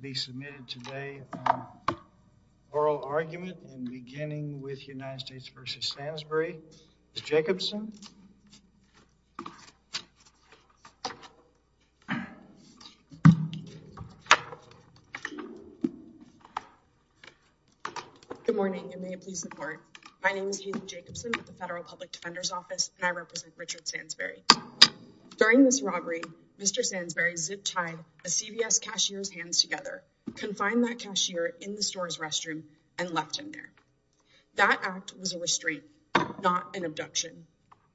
be submitted today on oral argument and beginning with United States v. Sansbury. Ms. Jacobson. Good morning and may it please the court. My name is Hayden Jacobson at the Federal Public Defender's Office and I represent Richard Sansbury. During this robbery, Mr. Sansbury zip-tied a CVS cashier's hands together, confined that cashier in the store's restroom, and left him there. That act was a restraint, not an abduction,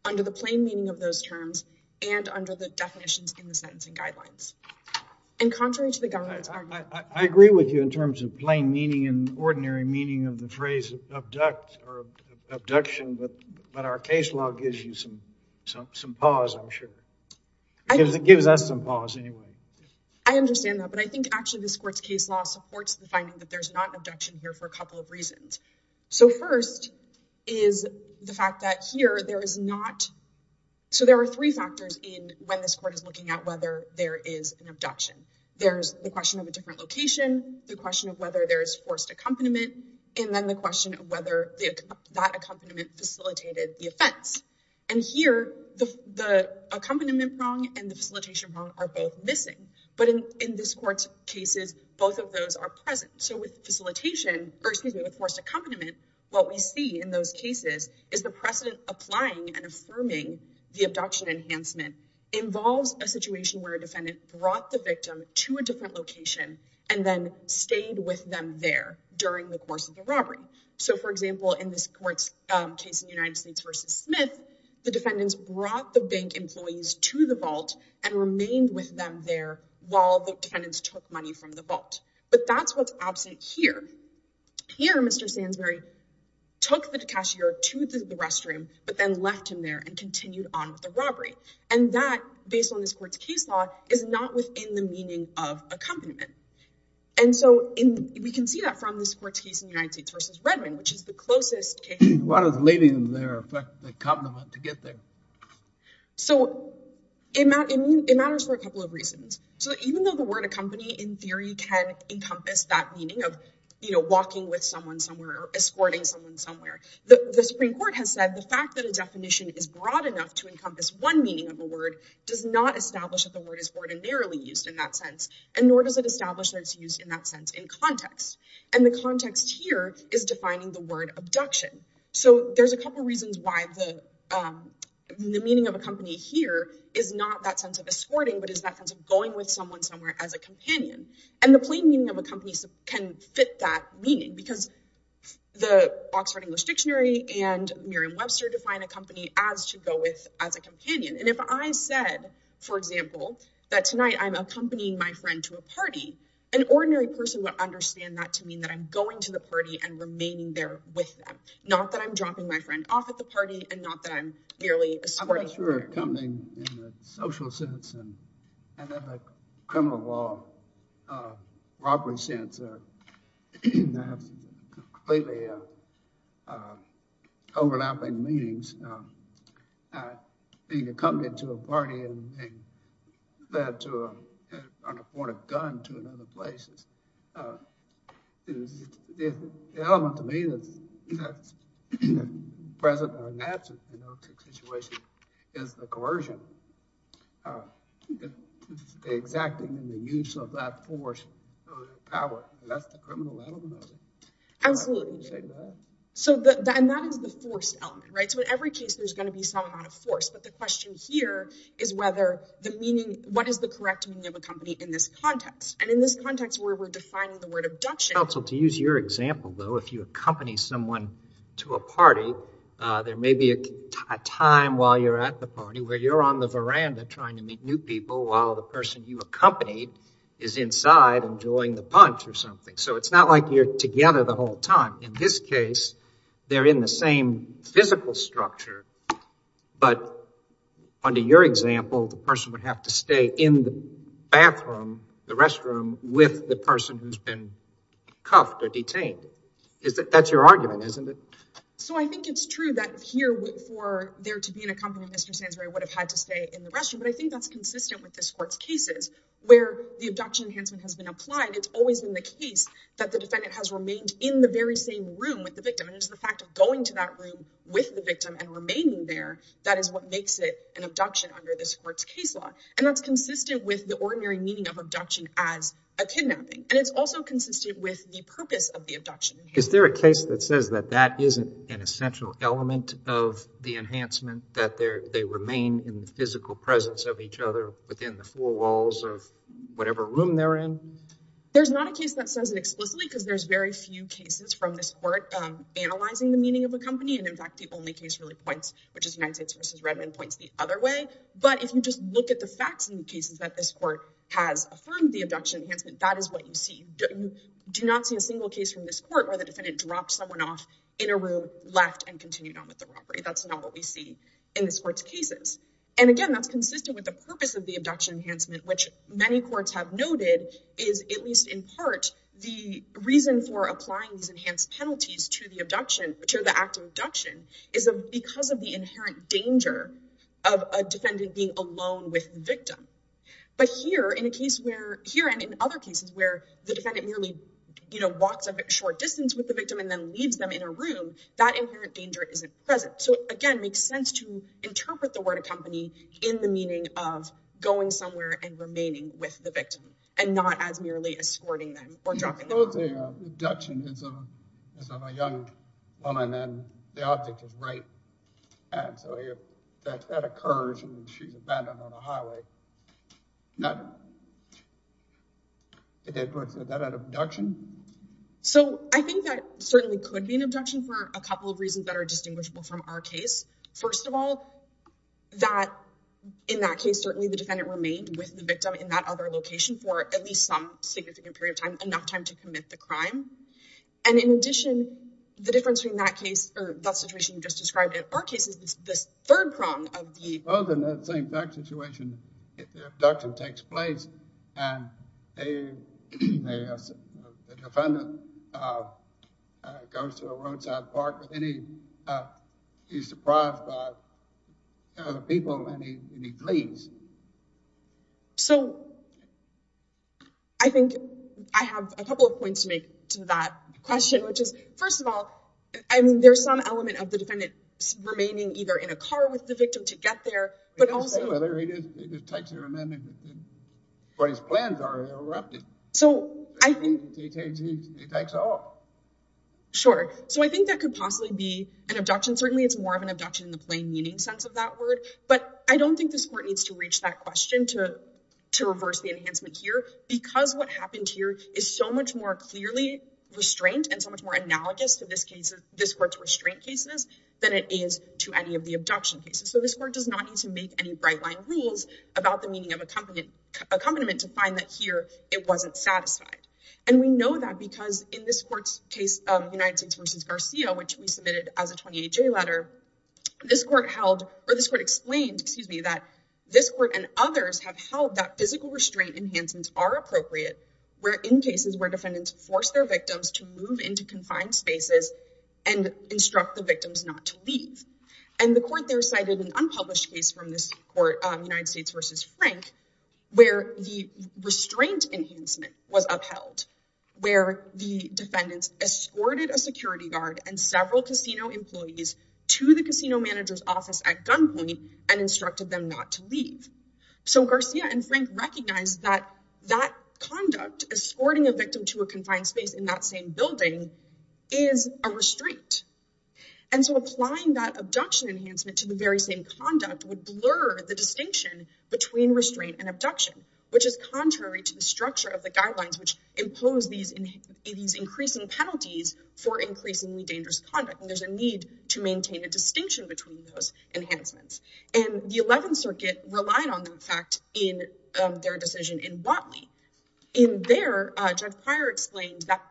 under the plain meaning of those terms and under the definitions in the sentencing guidelines. And contrary to the government's argument... I agree with you in terms of plain meaning and ordinary meaning of the phrase or abduction, but our case law gives you some pause, I'm sure. It gives us some pause anyway. I understand that, but I think actually this court's case law supports the finding that there's not abduction here for a couple of reasons. So first is the fact that here there is not... So there are three factors in when this court is looking at whether there is an abduction. There's the question of a different location, the question of whether there is forced accompaniment, and then the question of whether that accompaniment facilitated the offense. And here, the accompaniment wrong and the facilitation wrong are both missing, but in this court's cases, both of those are present. So with facilitation, or excuse me, with forced accompaniment, what we see in those cases is the precedent applying and affirming the abduction enhancement involves a situation where a defendant brought the victim to a robbery. So for example, in this court's case in the United States versus Smith, the defendants brought the bank employees to the vault and remained with them there while the defendants took money from the vault. But that's what's absent here. Here, Mr. Sandsbury took the cashier to the restroom, but then left him there and continued on with the robbery. And that, based on this court's case law, is not within the meaning of accompaniment. And so we can see that from this court's case in the United States versus Redmond, which is the closest case. Why does leaving them there affect the accompaniment to get there? So it matters for a couple of reasons. So even though the word accompany, in theory, can encompass that meaning of walking with someone somewhere or escorting someone somewhere, the Supreme Court has said the fact that a definition is broad enough to encompass one meaning of a word does not establish that the word is ordinarily used in that sense, and nor does it establish that it's used in that sense in context. And the context here is defining the word abduction. So there's a couple of reasons why the meaning of accompany here is not that sense of escorting, but is that sense of going with someone somewhere as a companion. And the plain meaning of accompany can fit that meaning, because the Oxford English Dictionary and Merriam-Webster define accompany as to go with as a companion. And if I said, for example, that tonight I'm accompanying my friend to a party, an ordinary person would understand that to mean that I'm going to the party and remaining there with them, not that I'm dropping my friend off at the party, and not that I'm merely escorting. I'm not sure if accompanying in the social sense and in the criminal law, robbery sense, that's completely overlapping meanings. Being accompanied to a party and led to an unafforded gun to another place is the element to me that's present in that situation is the coercion. It's the exacting and the use of that force power. That's the criminal element of it. Absolutely. And that is the force element, right? So in every case, there's going to be some amount of force. But the question here is what is the correct meaning of accompany in this context? And in this context, where we're defining the word abduction. Counsel, to use your example, though, if you accompany someone to a party, there may be a time while you're at the party where you're the veranda trying to meet new people while the person you accompanied is inside enjoying the punch or something. So it's not like you're together the whole time. In this case, they're in the same physical structure. But under your example, the person would have to stay in the bathroom, the restroom with the person who's been cuffed or detained. That's your argument, isn't it? So I think it's true that here for there to be an accompaniment, Mr. Sansberry would have had to stay in the restroom. But I think that's consistent with this court's cases where the abduction enhancement has been applied. It's always been the case that the defendant has remained in the very same room with the victim. And it's the fact of going to that room with the victim and remaining there that is what makes it an abduction under this court's case law. And that's consistent with the ordinary meaning of abduction as a kidnapping. And it's also consistent with the purpose of the abduction. Is there a case that says that that isn't an physical presence of each other within the four walls of whatever room they're in? There's not a case that says it explicitly because there's very few cases from this court analyzing the meaning of accompaniment. In fact, the only case really points, which is United States v. Redmond, points the other way. But if you just look at the facts in the cases that this court has affirmed the abduction enhancement, that is what you see. You do not see a single case from this court where the defendant dropped someone off in a room, left, and continued on with the robbery. That's not what we see in this court's cases. And again, that's consistent with the purpose of the abduction enhancement, which many courts have noted is, at least in part, the reason for applying these enhanced penalties to the abduction, which are the act of abduction, is because of the inherent danger of a defendant being alone with the victim. But here, and in other cases where the defendant merely walks a short distance with the victim and then leaves them in a room, that inherent danger isn't present. So again, makes sense to interpret the word accompany in the meaning of going somewhere and remaining with the victim, and not as merely escorting them or dropping them off. Suppose the abduction is of a young woman and the object is rape. And so if that occurs and she's abandoned on a highway, is that an abduction? So I think that certainly could be an abduction for a couple of reasons that are distinguishable from our case. First of all, that in that case, certainly the defendant remained with the victim in that other location for at least some significant period of time, enough time to commit the crime. And in addition, the difference between that case or that situation you just described in our case is this third prong of the- Suppose in that same back situation, the abduction takes place and the defendant goes to a roadside park and he's surprised by the people and he flees. So I think I have a couple of points to make to that question, which is, first of all, I mean, there's some element of the defendant remaining either in a car with the victim to get there, but also- He's still there. He just takes her and then, what his plans are, he'll rob him. So I think- He takes her off. Sure. So I think that could possibly be an abduction. Certainly it's more of an abduction in the plain meaning sense of that word. But I don't think this court needs to reach that question to reverse the enhancement here, because what happened here is so much more clearly restraint and so much more analogous to this court's restraint cases than it is to any of the abduction cases. So this court does not need to make any bright-line rules about the meaning of accompaniment to find that here it wasn't satisfied. And we know that because in this court's case of United States v. Garcia, which we submitted as a 28-J letter, this court held- or this court explained, excuse me, that this court and others have held that physical restraint enhancements are appropriate in cases where defendants force their victims to move into confined spaces and instruct the victims not to leave. And the court there cited an unpublished case from this court, United States v. Frank, where the restraint enhancement was upheld, where the defendants escorted a security guard and several casino employees to the casino manager's office at gunpoint and instructed them not to leave. So Garcia and confined space in that same building is a restraint. And so applying that abduction enhancement to the very same conduct would blur the distinction between restraint and abduction, which is contrary to the structure of the guidelines which impose these increasing penalties for increasingly dangerous conduct. And there's a need to maintain a distinction between those enhancements. And the prior explained that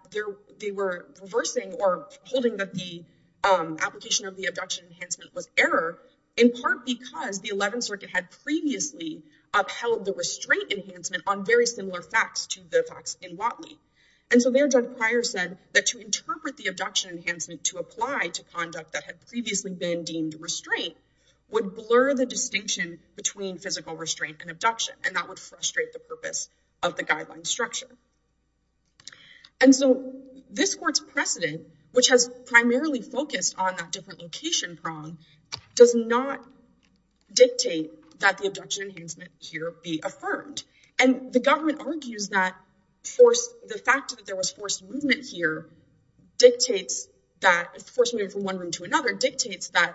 they were reversing or holding that the application of the abduction enhancement was error, in part because the 11th Circuit had previously upheld the restraint enhancement on very similar facts to the facts in Watley. And so there, Judge Pryor said that to interpret the abduction enhancement to apply to conduct that had previously been deemed restraint would blur the distinction between physical restraint and abduction, and that would frustrate the purpose of the guideline structure. And so this court's precedent, which has primarily focused on that different location prong, does not dictate that the abduction enhancement here be affirmed. And the government argues that the fact that there was forced movement here dictates that, forced movement from one room to another, dictates that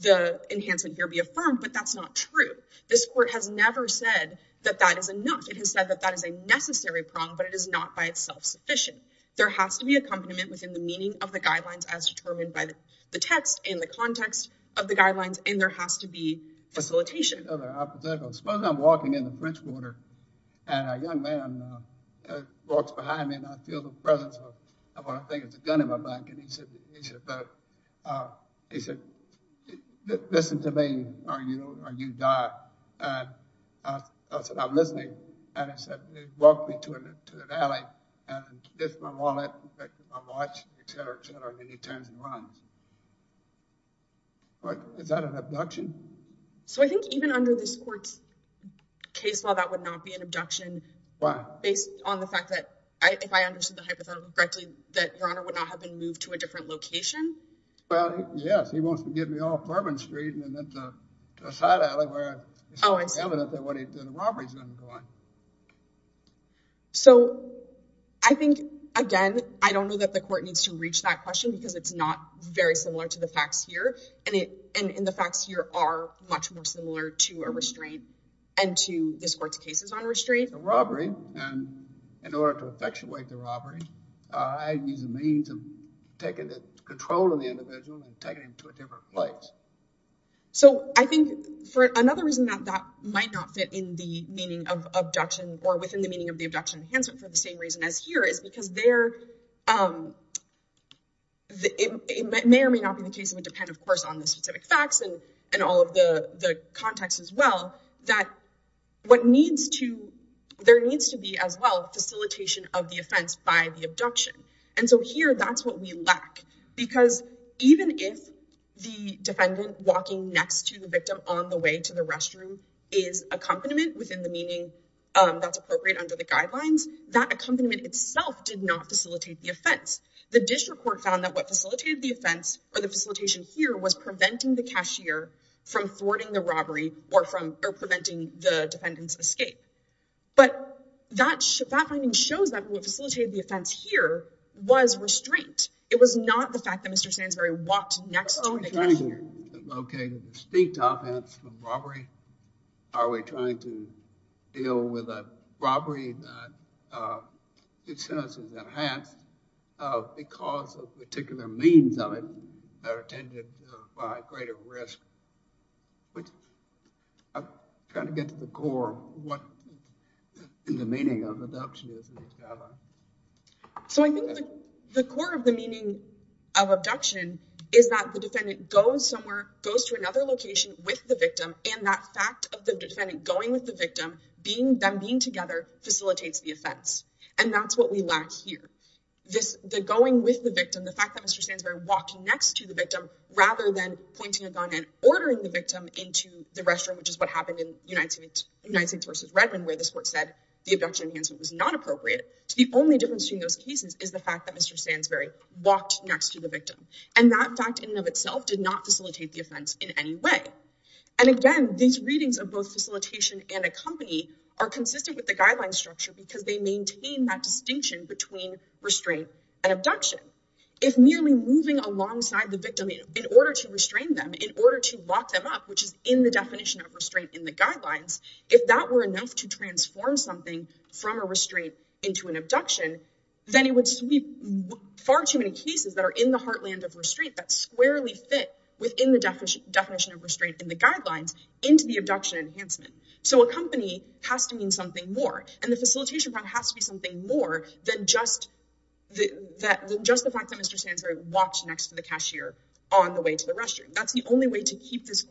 the enhancement here be affirmed, but that's not true. This court has never said that that is enough. It has said that that is a necessary prong, but it is not by itself sufficient. There has to be accompaniment within the meaning of the guidelines as determined by the text and the context of the guidelines, and there has to be facilitation. Suppose I'm walking in the French Quarter, and a young man walks behind me, and I feel the presence of what I think is a gun in my back, and he said, listen to me, or you die. And I said, I'm listening. And he said, walk me to the valley, and this is my wallet, that's my watch, et cetera, et cetera, and he turns and runs. But is that an abduction? So I think even under this court's case law, that would not be an abduction. Why? Based on the fact that, if I understood the hypothetical correctly, that your honor would not have been moved to a different location. Well, yes, he wants to get me off to a side alley where it's more evident that a robbery is undergoing. So I think, again, I don't know that the court needs to reach that question, because it's not very similar to the facts here, and the facts here are much more similar to a restraint, and to this court's cases on restraint. A robbery, and in order to effectuate the robbery, I'd use a means of taking control of the individual and taking him to a different place. So I think, for another reason that that might not fit in the meaning of abduction, or within the meaning of the abduction enhancement, for the same reason as here, is because there, it may or may not be the case, it would depend, of course, on the specific facts, and all of the context as well, that what needs to, there needs to be as well, facilitation of the offense by the abduction. And so here, that's what we lack, because even if the defendant walking next to the victim on the way to the restroom is accompaniment within the meaning that's appropriate under the guidelines, that accompaniment itself did not facilitate the offense. The district court found that what facilitated the offense, or the facilitation here, was preventing the cashier from thwarting the robbery, or preventing the defendant's escape. But that finding shows that what facilitated the offense here was restraint. It was not the fact that Mr. Sandsbury walked next to the cashier. Are we trying to locate a distinct offense from robbery? Are we trying to deal with a robbery that it says is enhanced because of particular means of it that are attended by greater risk? Which, I'm trying to get to the core of what the meaning of abduction is in these guidelines. So I think the core of the meaning of abduction is that the defendant goes somewhere, goes to another location with the victim, and that fact of the defendant going with the victim, them being together, facilitates the offense. And that's what we lack here. The going with the victim, the fact that Mr. Sandsbury walked next to the victim, rather than pointing a gun and ordering the victim into the restroom, which is what happened in United States versus Redmond, where this court said the abduction enhancement was not appropriate. The only difference between those cases is the fact that Mr. Sandsbury walked next to the victim. And that fact in and of itself did not facilitate the offense in any way. And again, these readings of both facilitation and accompany are consistent with the guideline structure because they maintain that distinction between restraint and abduction. If merely moving alongside the victim in order to restrain them, in order to lock them up, which is in the definition of restraint in the guidelines, if that were enough to transform something from a restraint into an abduction, then it would sweep far too many cases that are in the heartland of restraint that squarely fit within the definition of restraint in the guidelines into the abduction enhancement. So accompany has to mean something more. And the facilitation part has to be something more than just the fact that Mr. Sandsbury walked next to the cashier on the way to the restroom. That's the only way to keep this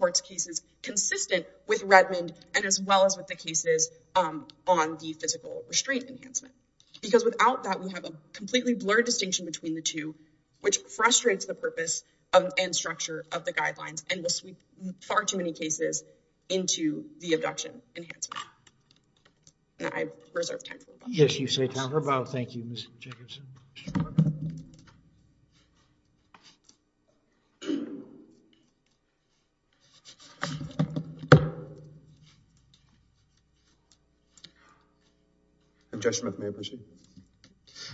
and as well as with the cases on the physical restraint enhancement. Because without that, we have a completely blurred distinction between the two, which frustrates the purpose and structure of the guidelines and will sweep far too many cases into the abduction enhancement. I reserve time for rebuttal. Yes, you say time for rebuttal. Thank you, Mr. Jacobson. Judge Smith, may I proceed?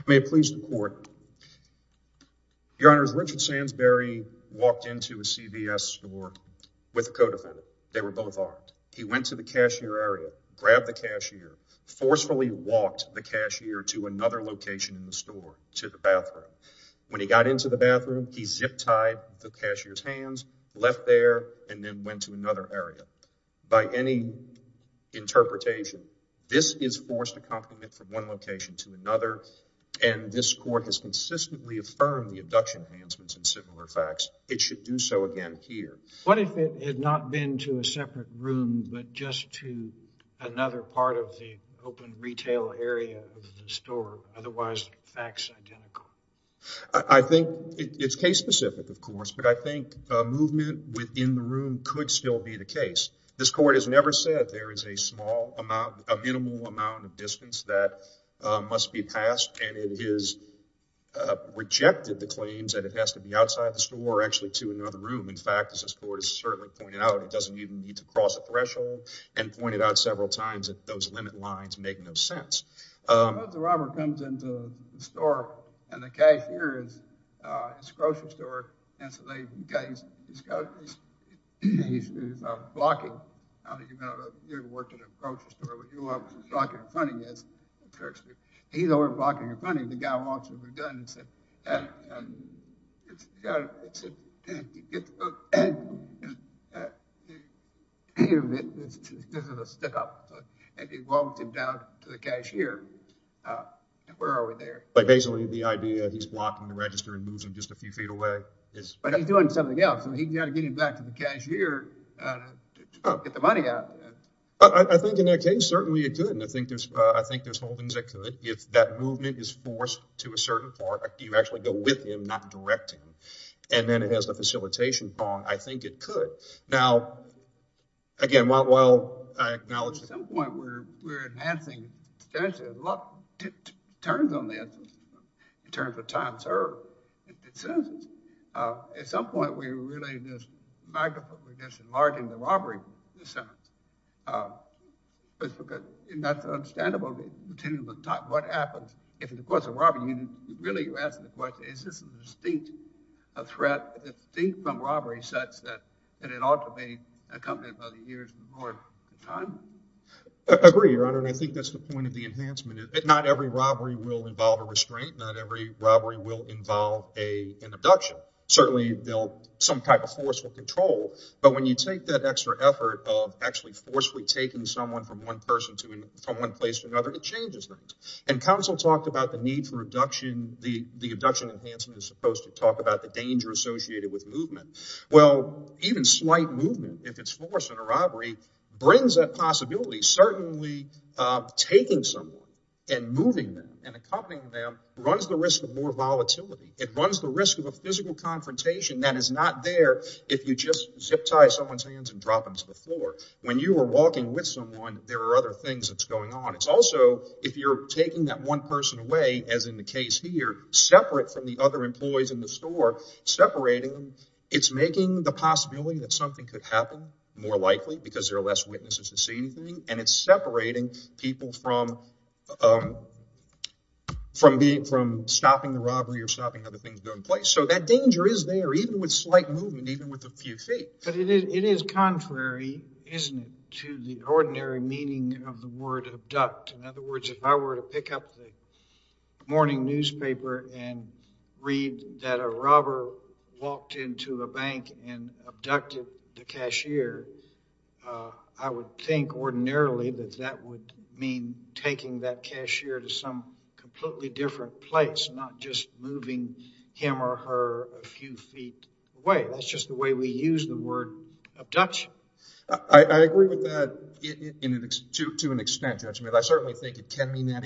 May it please the court. Your Honors, Richard Sandsbury walked into a CVS store with a co-defendant. They were both armed. He went to the cashier area, grabbed the cashier, forcefully walked the cashier to another location in the store, to the bathroom. When he got into the bathroom, he zip-tied the cashier's hands, left there, and then went to another area. By any interpretation, this is forced accompaniment from one location to another, and this court has consistently affirmed the abduction enhancements and similar facts. It should do so again here. What if it had not been to a separate room, but just to another part of the open retail area of the store, otherwise facts identical? I think it's case-specific, of course, but I think movement within the room could still be the case. This court has never said there is a small amount, a minimal amount of distance that must be passed, and it has rejected the claims that it has to be outside the store, actually to another room. In fact, as this court has certainly pointed out, it doesn't even need to cross a threshold, and pointed out several times that those limit lines make no sense. The robber comes into the store, and the cashier is at the grocery store, and so he's blocking. He's over blocking in front of you, and the guy walks with a gun and says, this is a stick-up, and he walks him down to the cashier. Where are we there? Basically, the idea is he's blocking the register and moves him just a few feet away. But he's doing something else, and he's got to get him back to the cashier to get the money out. I think in that case, certainly it could, and I think there's holdings that could. If that movement is forced to a certain part, you actually go with him, not direct him, and then it has the facilitation problem, I think it could. Now, again, while I acknowledge... At some point, we were really just enlarging the robbery. That's understandable. What happens if it's a course of robbery? Really, you're asking the question, is this a distinct threat, distinct from robbery such that it ought to be accompanied by the years before? I agree, Your Honor, and I think that's the point of the enhancement. Not every robbery will involve a restraint. Not every robbery will involve an abduction. Certainly, some type of force will control, but when you take that extra effort of actually forcefully taking someone from one place to another, it changes things. Counsel talked about the need for abduction. The abduction enhancement is supposed to talk about the brings that possibility. Certainly, taking someone and moving them and accompanying them runs the risk of more volatility. It runs the risk of a physical confrontation that is not there if you just zip tie someone's hands and drop them to the floor. When you are walking with someone, there are other things that's going on. It's also, if you're taking that one person away, as in the case here, separate from the other employees in the store, separating them, it's making the possibility that something could happen more likely because there are less witnesses to see anything. It's separating people from stopping the robbery or stopping how the things go in place. That danger is there, even with slight movement, even with a few feet. But it is contrary, isn't it, to the ordinary meaning of the word abduct? In other words, if I were to pick up the morning newspaper and read that a robber walked into a bank and abducted the cashier, I would think ordinarily that that would mean taking that cashier to some completely different place, not just moving him or her a few feet away. That's just the way we mean that. It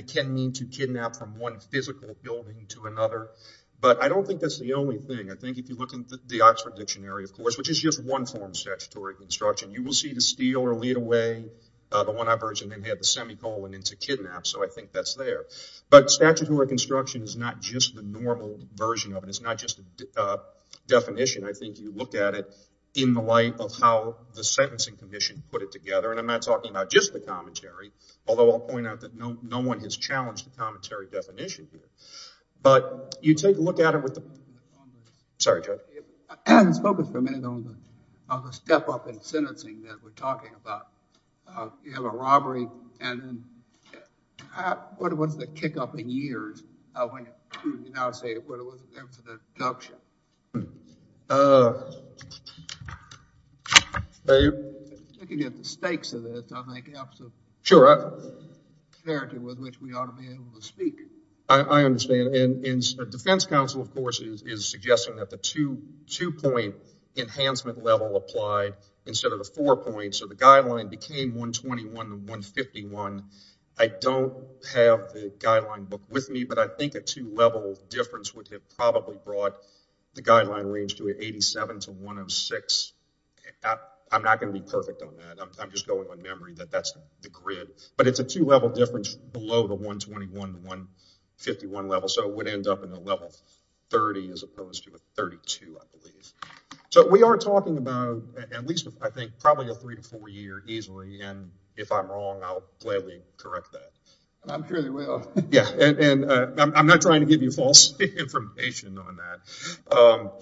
can mean to kidnap from one physical building to another. But I don't think that's the only thing. I think if you look in the Oxford Dictionary, of course, which is just one form of statutory construction, you will see to steal or lead away the one-eyed person and have the semicolon into kidnap. So I think that's there. But statutory construction is not just the normal version of it. It's not just a definition. I think you look at it in the light of how the Sentencing Commission put it together. And I'm not talking about just the commentary, although I'll point out that no one has challenged the commentary definition here. But you take a look at it with the... Sorry, Chuck. I was focused for a minute on the step-up in sentencing that we're talking about. You have a robbery, and then what was the kick-up in years when you now say, infinite adoption? I can get the stakes of it. I'll make absolute clarity with which we ought to be able to speak. I understand. And the Defense Council, of course, is suggesting that the two-point enhancement level applied instead of the four points. So the guideline became 121 to 151. I don't have the guideline book with me, but I think a two-level difference would have probably brought the guideline range to 87 to 106. I'm not going to be perfect on that. I'm just going with my memory that that's the grid. But it's a two-level difference below the 121 to 151 level. So it would end up in a level 30 as opposed to a 32, I believe. So we are talking about at least, I think, probably a three to four year easily. And if I'm wrong, I'll gladly correct that. I'm sure you will. Yeah. And I'm not trying to give you false information on that.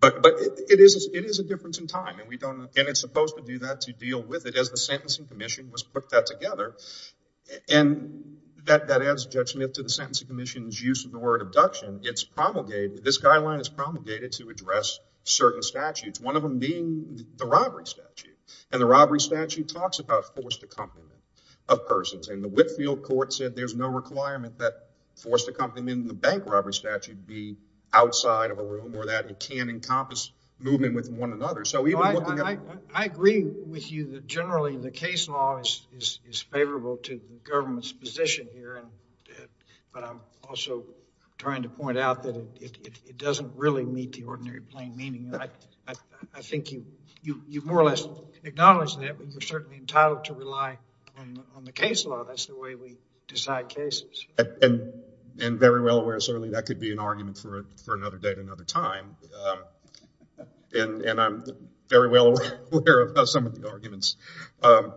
But it is a difference in time. And it's supposed to do that, to deal with it, as the Sentencing Commission was put that together. And that adds judgment to the Sentencing Commission's use of the word abduction. This guideline is promulgated to address certain statutes, one of them being the robbery statute. And the robbery statute talks about forced accompaniment of persons. And the Whitfield court said there's no requirement that forced accompaniment in the bank robbery statute be outside of a room or that it can encompass movement with one another. I agree with you that generally the case law is favorable to the government's position here. But I'm also trying to point out that it doesn't really meet the ordinary plain meaning. I think you've more or less acknowledged that, but you're certainly entitled to rely on the case law. That's the way we decide cases. And very well aware, certainly, that could be an argument for another day at another time. And I'm very well aware of some of the arguments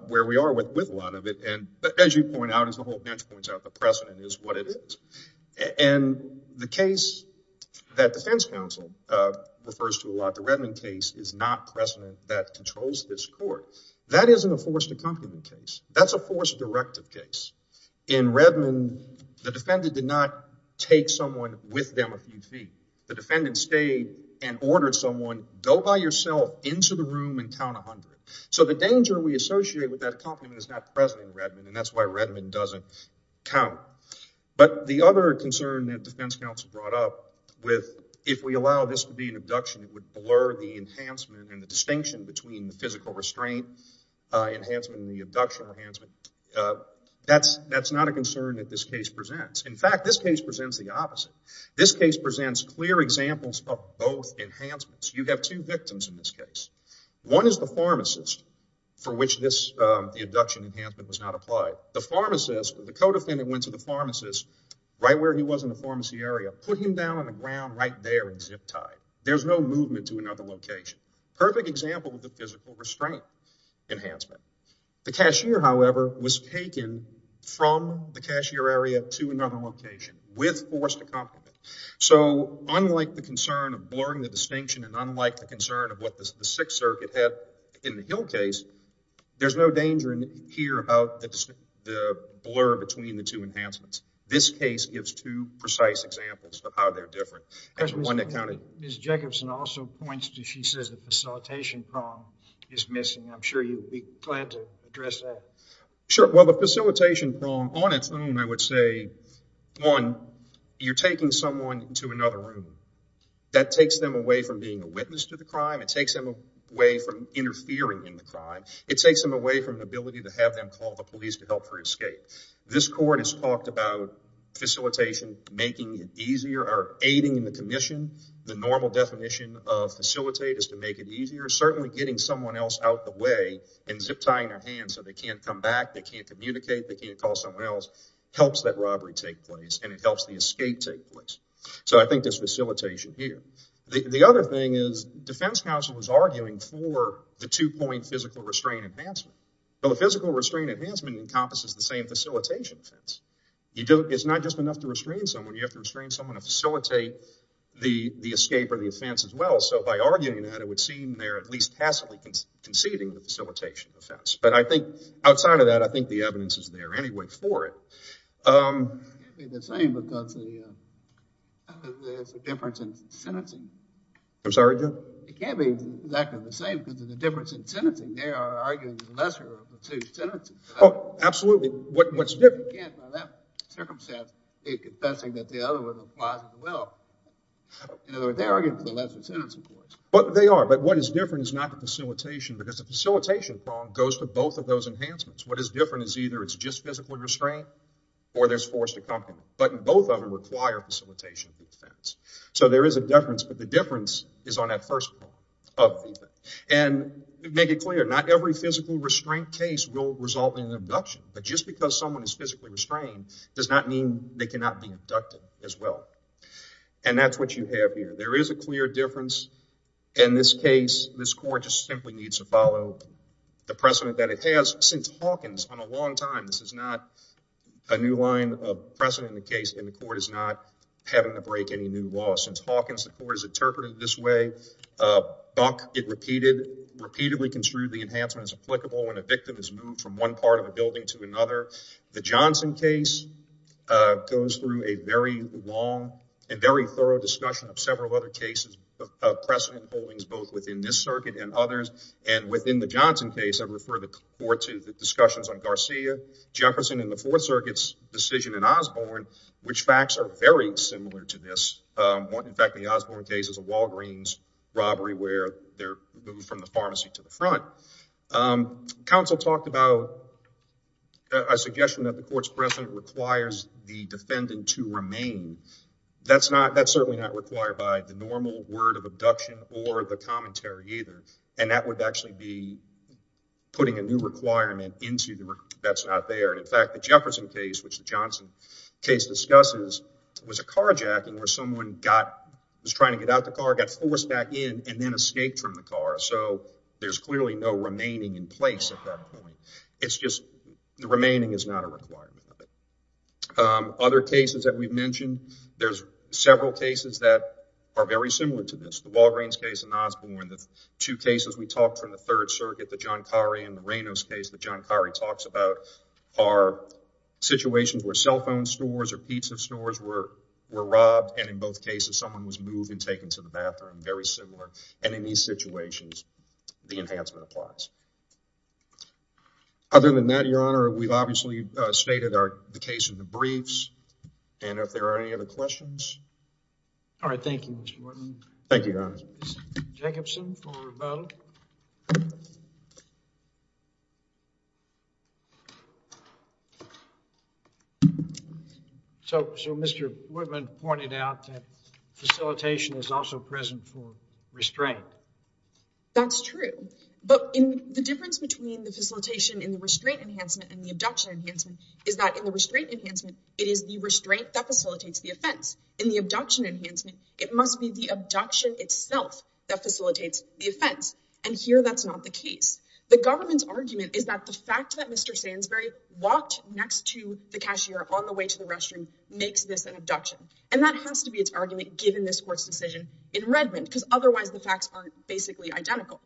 where we are with a lot of it. And as you point out, as the whole bench points out, the precedent is what it is. And the case that defense counsel refers to a lot, the Redmond case, is not precedent that controls this court. That isn't a forced accompaniment case. That's a forced directive case. In Redmond, the defendant did not take someone with them a few feet. The defendant stayed and ordered someone, go by yourself into the room and count 100. So the danger we associate with that accompaniment is not present in Redmond, and that's why Redmond doesn't count. But the other concern that defense counsel brought up with, if we allow this to be an abduction, it would blur the enhancement and the distinction between the physical restraint enhancement and the abduction enhancement. That's not a concern that this case presents. In fact, this case presents the opposite. This case presents clear examples of both enhancements. You have two victims in this case. One is the pharmacist for which the abduction enhancement was not applied. The pharmacist, the co-defendant went to the pharmacist right where he was in the pharmacy area, put him down on the ground right there and zip tied. There's no movement to another location. Perfect example of the physical restraint enhancement. The cashier, however, was taken from the cashier area to another location with forced accompaniment. So unlike the concern of blurring the distinction and unlike the concern of what the Sixth Circuit had in the Hill case, there's no danger in here about the blur between the two enhancements. This case gives two precise examples of how they're different. Ms. Jacobson also points to, she says, the facilitation prong is missing. I'm sure you'd be glad to address that. Sure. Well, the facilitation prong on its own, I would say, one, you're taking someone into another room. That takes them away from being a witness to crime. It takes them away from interfering in the crime. It takes them away from the ability to have them call the police to help her escape. This court has talked about facilitation making it easier or aiding in the commission. The normal definition of facilitate is to make it easier. Certainly getting someone else out the way and zip tying their hands so they can't come back, they can't communicate, they can't call someone else, helps that robbery take place and it helps the escape take place. So I think there's facilitation here. The other thing is defense counsel was arguing for the two-point physical restraint advancement. The physical restraint advancement encompasses the same facilitation offense. It's not just enough to restrain someone. You have to restrain someone to facilitate the escape or the offense as well. So by arguing that, it would seem they're at least tacitly conceding the facilitation offense. But I think outside of that, I think the evidence is there anyway for it. It can't be the same because there's a difference in sentencing. I'm sorry, Jim? It can't be exactly the same because of the difference in sentencing. They are arguing the lesser of the two sentences. Oh, absolutely. What's different? Again, by that circumstance, they're confessing that the other one applies as well. In other words, they're arguing for the lesser sentence, of course. They are, but what is different is not the facilitation because the facilitation problem goes to both of those enhancements. What is different is either it's just physical restraint or there's forced accompaniment, but both of them require facilitation offense. So there is a difference, but the difference is on that first part of the event. And to make it clear, not every physical restraint case will result in an abduction, but just because someone is physically restrained does not mean they cannot be abducted as well. And that's what you have here. There is a clear difference. In this case, this court just simply needs to follow the precedent that it has since Hawkins on a long time. This is not a new line of precedent in the case, and the court is not having to break any new law. Since Hawkins, the court has interpreted it this way. Buck, it repeatedly construed the enhancement as applicable when a victim is moved from one part of a building to another. The Johnson case goes through a very long and very thorough discussion of several other cases of precedent holdings, both within this circuit and others. And within the Johnson case, I refer the court to the discussions on Garcia, Jefferson, and the Fourth Circuit's decision in Osborne, which facts are very similar to this. In fact, the Osborne case is a Walgreens robbery where they're moved from the pharmacy to the front. Counsel talked about a suggestion that the court's precedent requires the defendant to remain. That's certainly not required by the normal word of abduction or the commentary either. And that would actually be putting a new requirement that's not there. In fact, the Jefferson case, which the Johnson case discusses, was a carjacking where someone was trying to get out the car, got forced back in, and then escaped from the car. So, there's clearly no remaining in place at that point. It's just the remaining is not a requirement. Other cases that we've mentioned, there's several cases that are very similar to this. The we talked from the Third Circuit, the Giancari and the Reynos case that Giancari talks about are situations where cell phone stores or pizza stores were robbed. And in both cases, someone was moved and taken to the bathroom. Very similar. And in these situations, the enhancement applies. Other than that, Your Honor, we've obviously stated the case in the briefs. And if there are any other questions? All right. Thank you, Mr. Wharton. Thank you, Your Honor. Jacobson for rebuttal. So, Mr. Whitman pointed out that facilitation is also present for restraint. That's true. But the difference between the facilitation in the restraint enhancement and the abduction enhancement is that in the restraint enhancement, it is the restraint that facilitates the offense. In the abduction enhancement, it must be the abduction itself that facilitates the offense. And here, that's not the case. The government's argument is that the fact that Mr. Sandsbury walked next to the cashier on the way to the restroom makes this an abduction. And that has to be its argument given this court's decision in Redmond, because otherwise the facts aren't basically identical.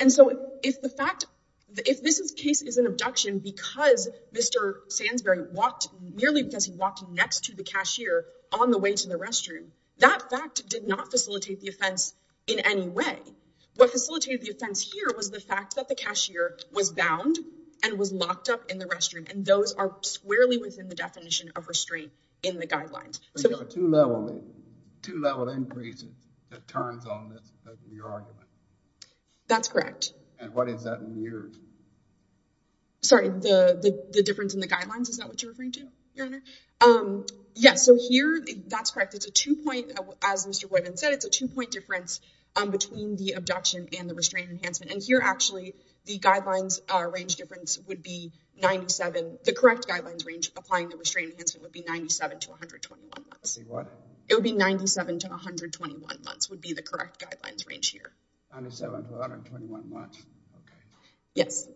And so, if the fact, if this case is an abduction because Mr. Sandsbury walked next to the cashier on the way to the restroom, that fact did not facilitate the offense in any way. What facilitated the offense here was the fact that the cashier was bound and was locked up in the restroom. And those are squarely within the definition of restraint in the guidelines. But you have a two-level increase that turns on your argument. That's correct. And what is that in yours? Sorry, the difference in the guidelines, is that what you're referring to? Yes. So here, that's correct. It's a two-point, as Mr. Whitman said, it's a two-point difference between the abduction and the restraint enhancement. And here, actually, the guidelines range difference would be 97. The correct guidelines range applying the restraint enhancement would be 97 to 121 months. Say what? It would be 97 to 121 months would be the correct guidelines range here. 97 to 121 months. Okay. Yes.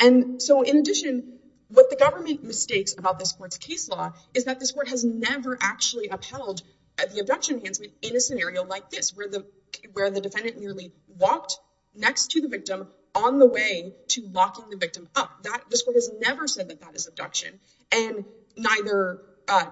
And so, in addition, what the government mistakes about this court's case law is that this court has never actually upheld the abduction enhancement in a scenario like this, where the defendant nearly walked next to the victim on the way to locking the victim up. This court has never said that that is abduction. And neither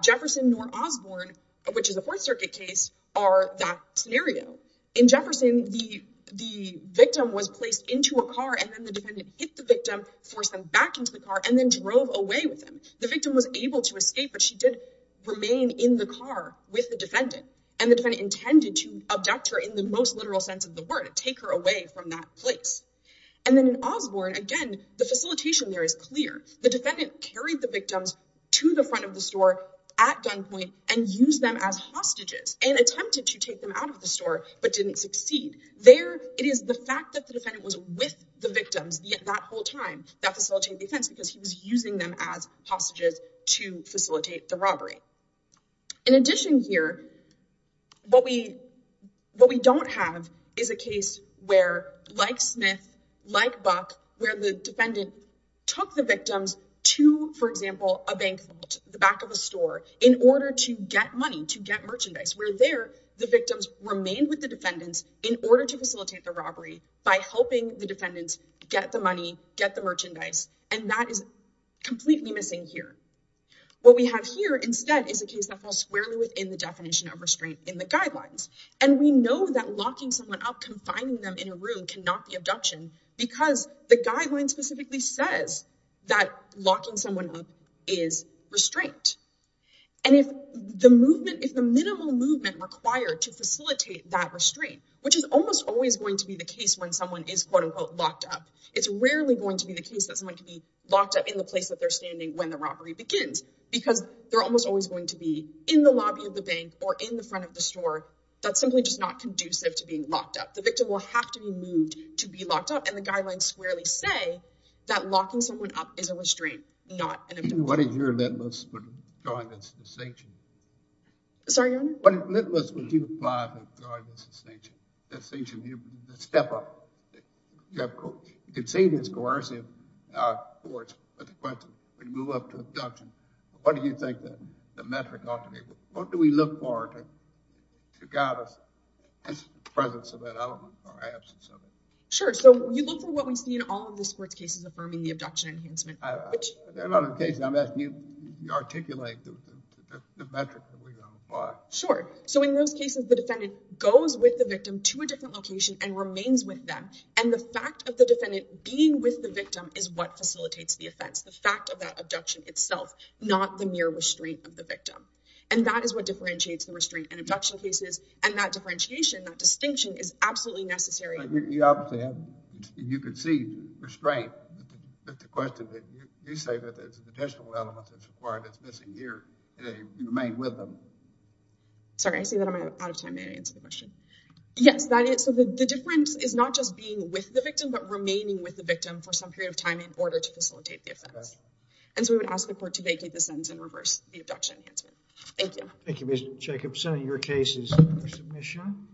Jefferson nor Osborne, which is a Fourth Circuit case, are that scenario. In Jefferson, the victim was placed into a car, and then the defendant hit the victim, forced them back into the car, and then drove away with them. The victim was able to escape, but she did remain in the car with the defendant. And the defendant intended to abduct her in the most literal sense of the word, take her away from that place. And then in Osborne, again, the facilitation there is clear. The defendant carried the victims to the front of the store at gunpoint and used them as hostages and attempted to take them out of the store, but didn't succeed. There, it is the fact that the defendant was with the victims that whole time that facilitated the offense, because he was using them as hostages to facilitate the robbery. In addition here, what we don't have is a case where, like Smith, like Buck, where the defendant took the victims to, for example, a bank vault, the back of a store, in order to get money, to get merchandise. Where there, the victims remained with the defendants in order to facilitate the robbery by helping the defendants get the money, get the merchandise. And that is completely missing here. What we have here instead is a case that falls squarely within the definition of restraint in the guidelines. And we know that locking someone up, confining them in a room cannot be abduction because the guideline specifically says that locking someone up is restraint. And if the movement, if the minimal movement required to facilitate that restraint, which is almost always going to be the case when someone is quote unquote locked up, it's rarely going to be the case that someone can be locked up in the place that they're standing when the robbery begins, because they're almost always going to be in the lobby of the bank or in front of the store. That's simply just not conducive to being locked up. The victim will have to be moved to be locked up and the guidelines squarely say that locking someone up is a restraint, not an abduction. What is your litmus for going against the sanction? Sorry, your honor? What litmus would you apply to going against the sanction? The sanction, the step-up. You can say this coercive, of course, but the question, we move up to abduction. What do you think the metric ought to be? What do we look for to guide us in the presence of that element or absence of it? Sure, so you look for what we see in all of the sports cases affirming the abduction enhancement. There are a lot of cases I'm asking you to articulate the metric that we're going to apply. Sure, so in those cases the defendant goes with the victim to a different location and remains with them. And the fact of the defendant being with the victim is what facilitates the offense. The fact of that abduction itself, not the mere restraint of the victim. And that is what differentiates the restraint and abduction cases. And that differentiation, that distinction is absolutely necessary. You obviously have, you could see restraint, but the question that you say that there's additional elements that's required that's missing here and you remain with them. Sorry, I see that I'm out of time. May I answer the question? Yes, so the difference is not just being with the victim, but remaining with the victim for some period of time in order to facilitate the offense. And so we would ask the court to vacate the sentence in reverse, the abduction enhancement. Thank you. Thank you, Ms. Jacobson. Your case is under submission.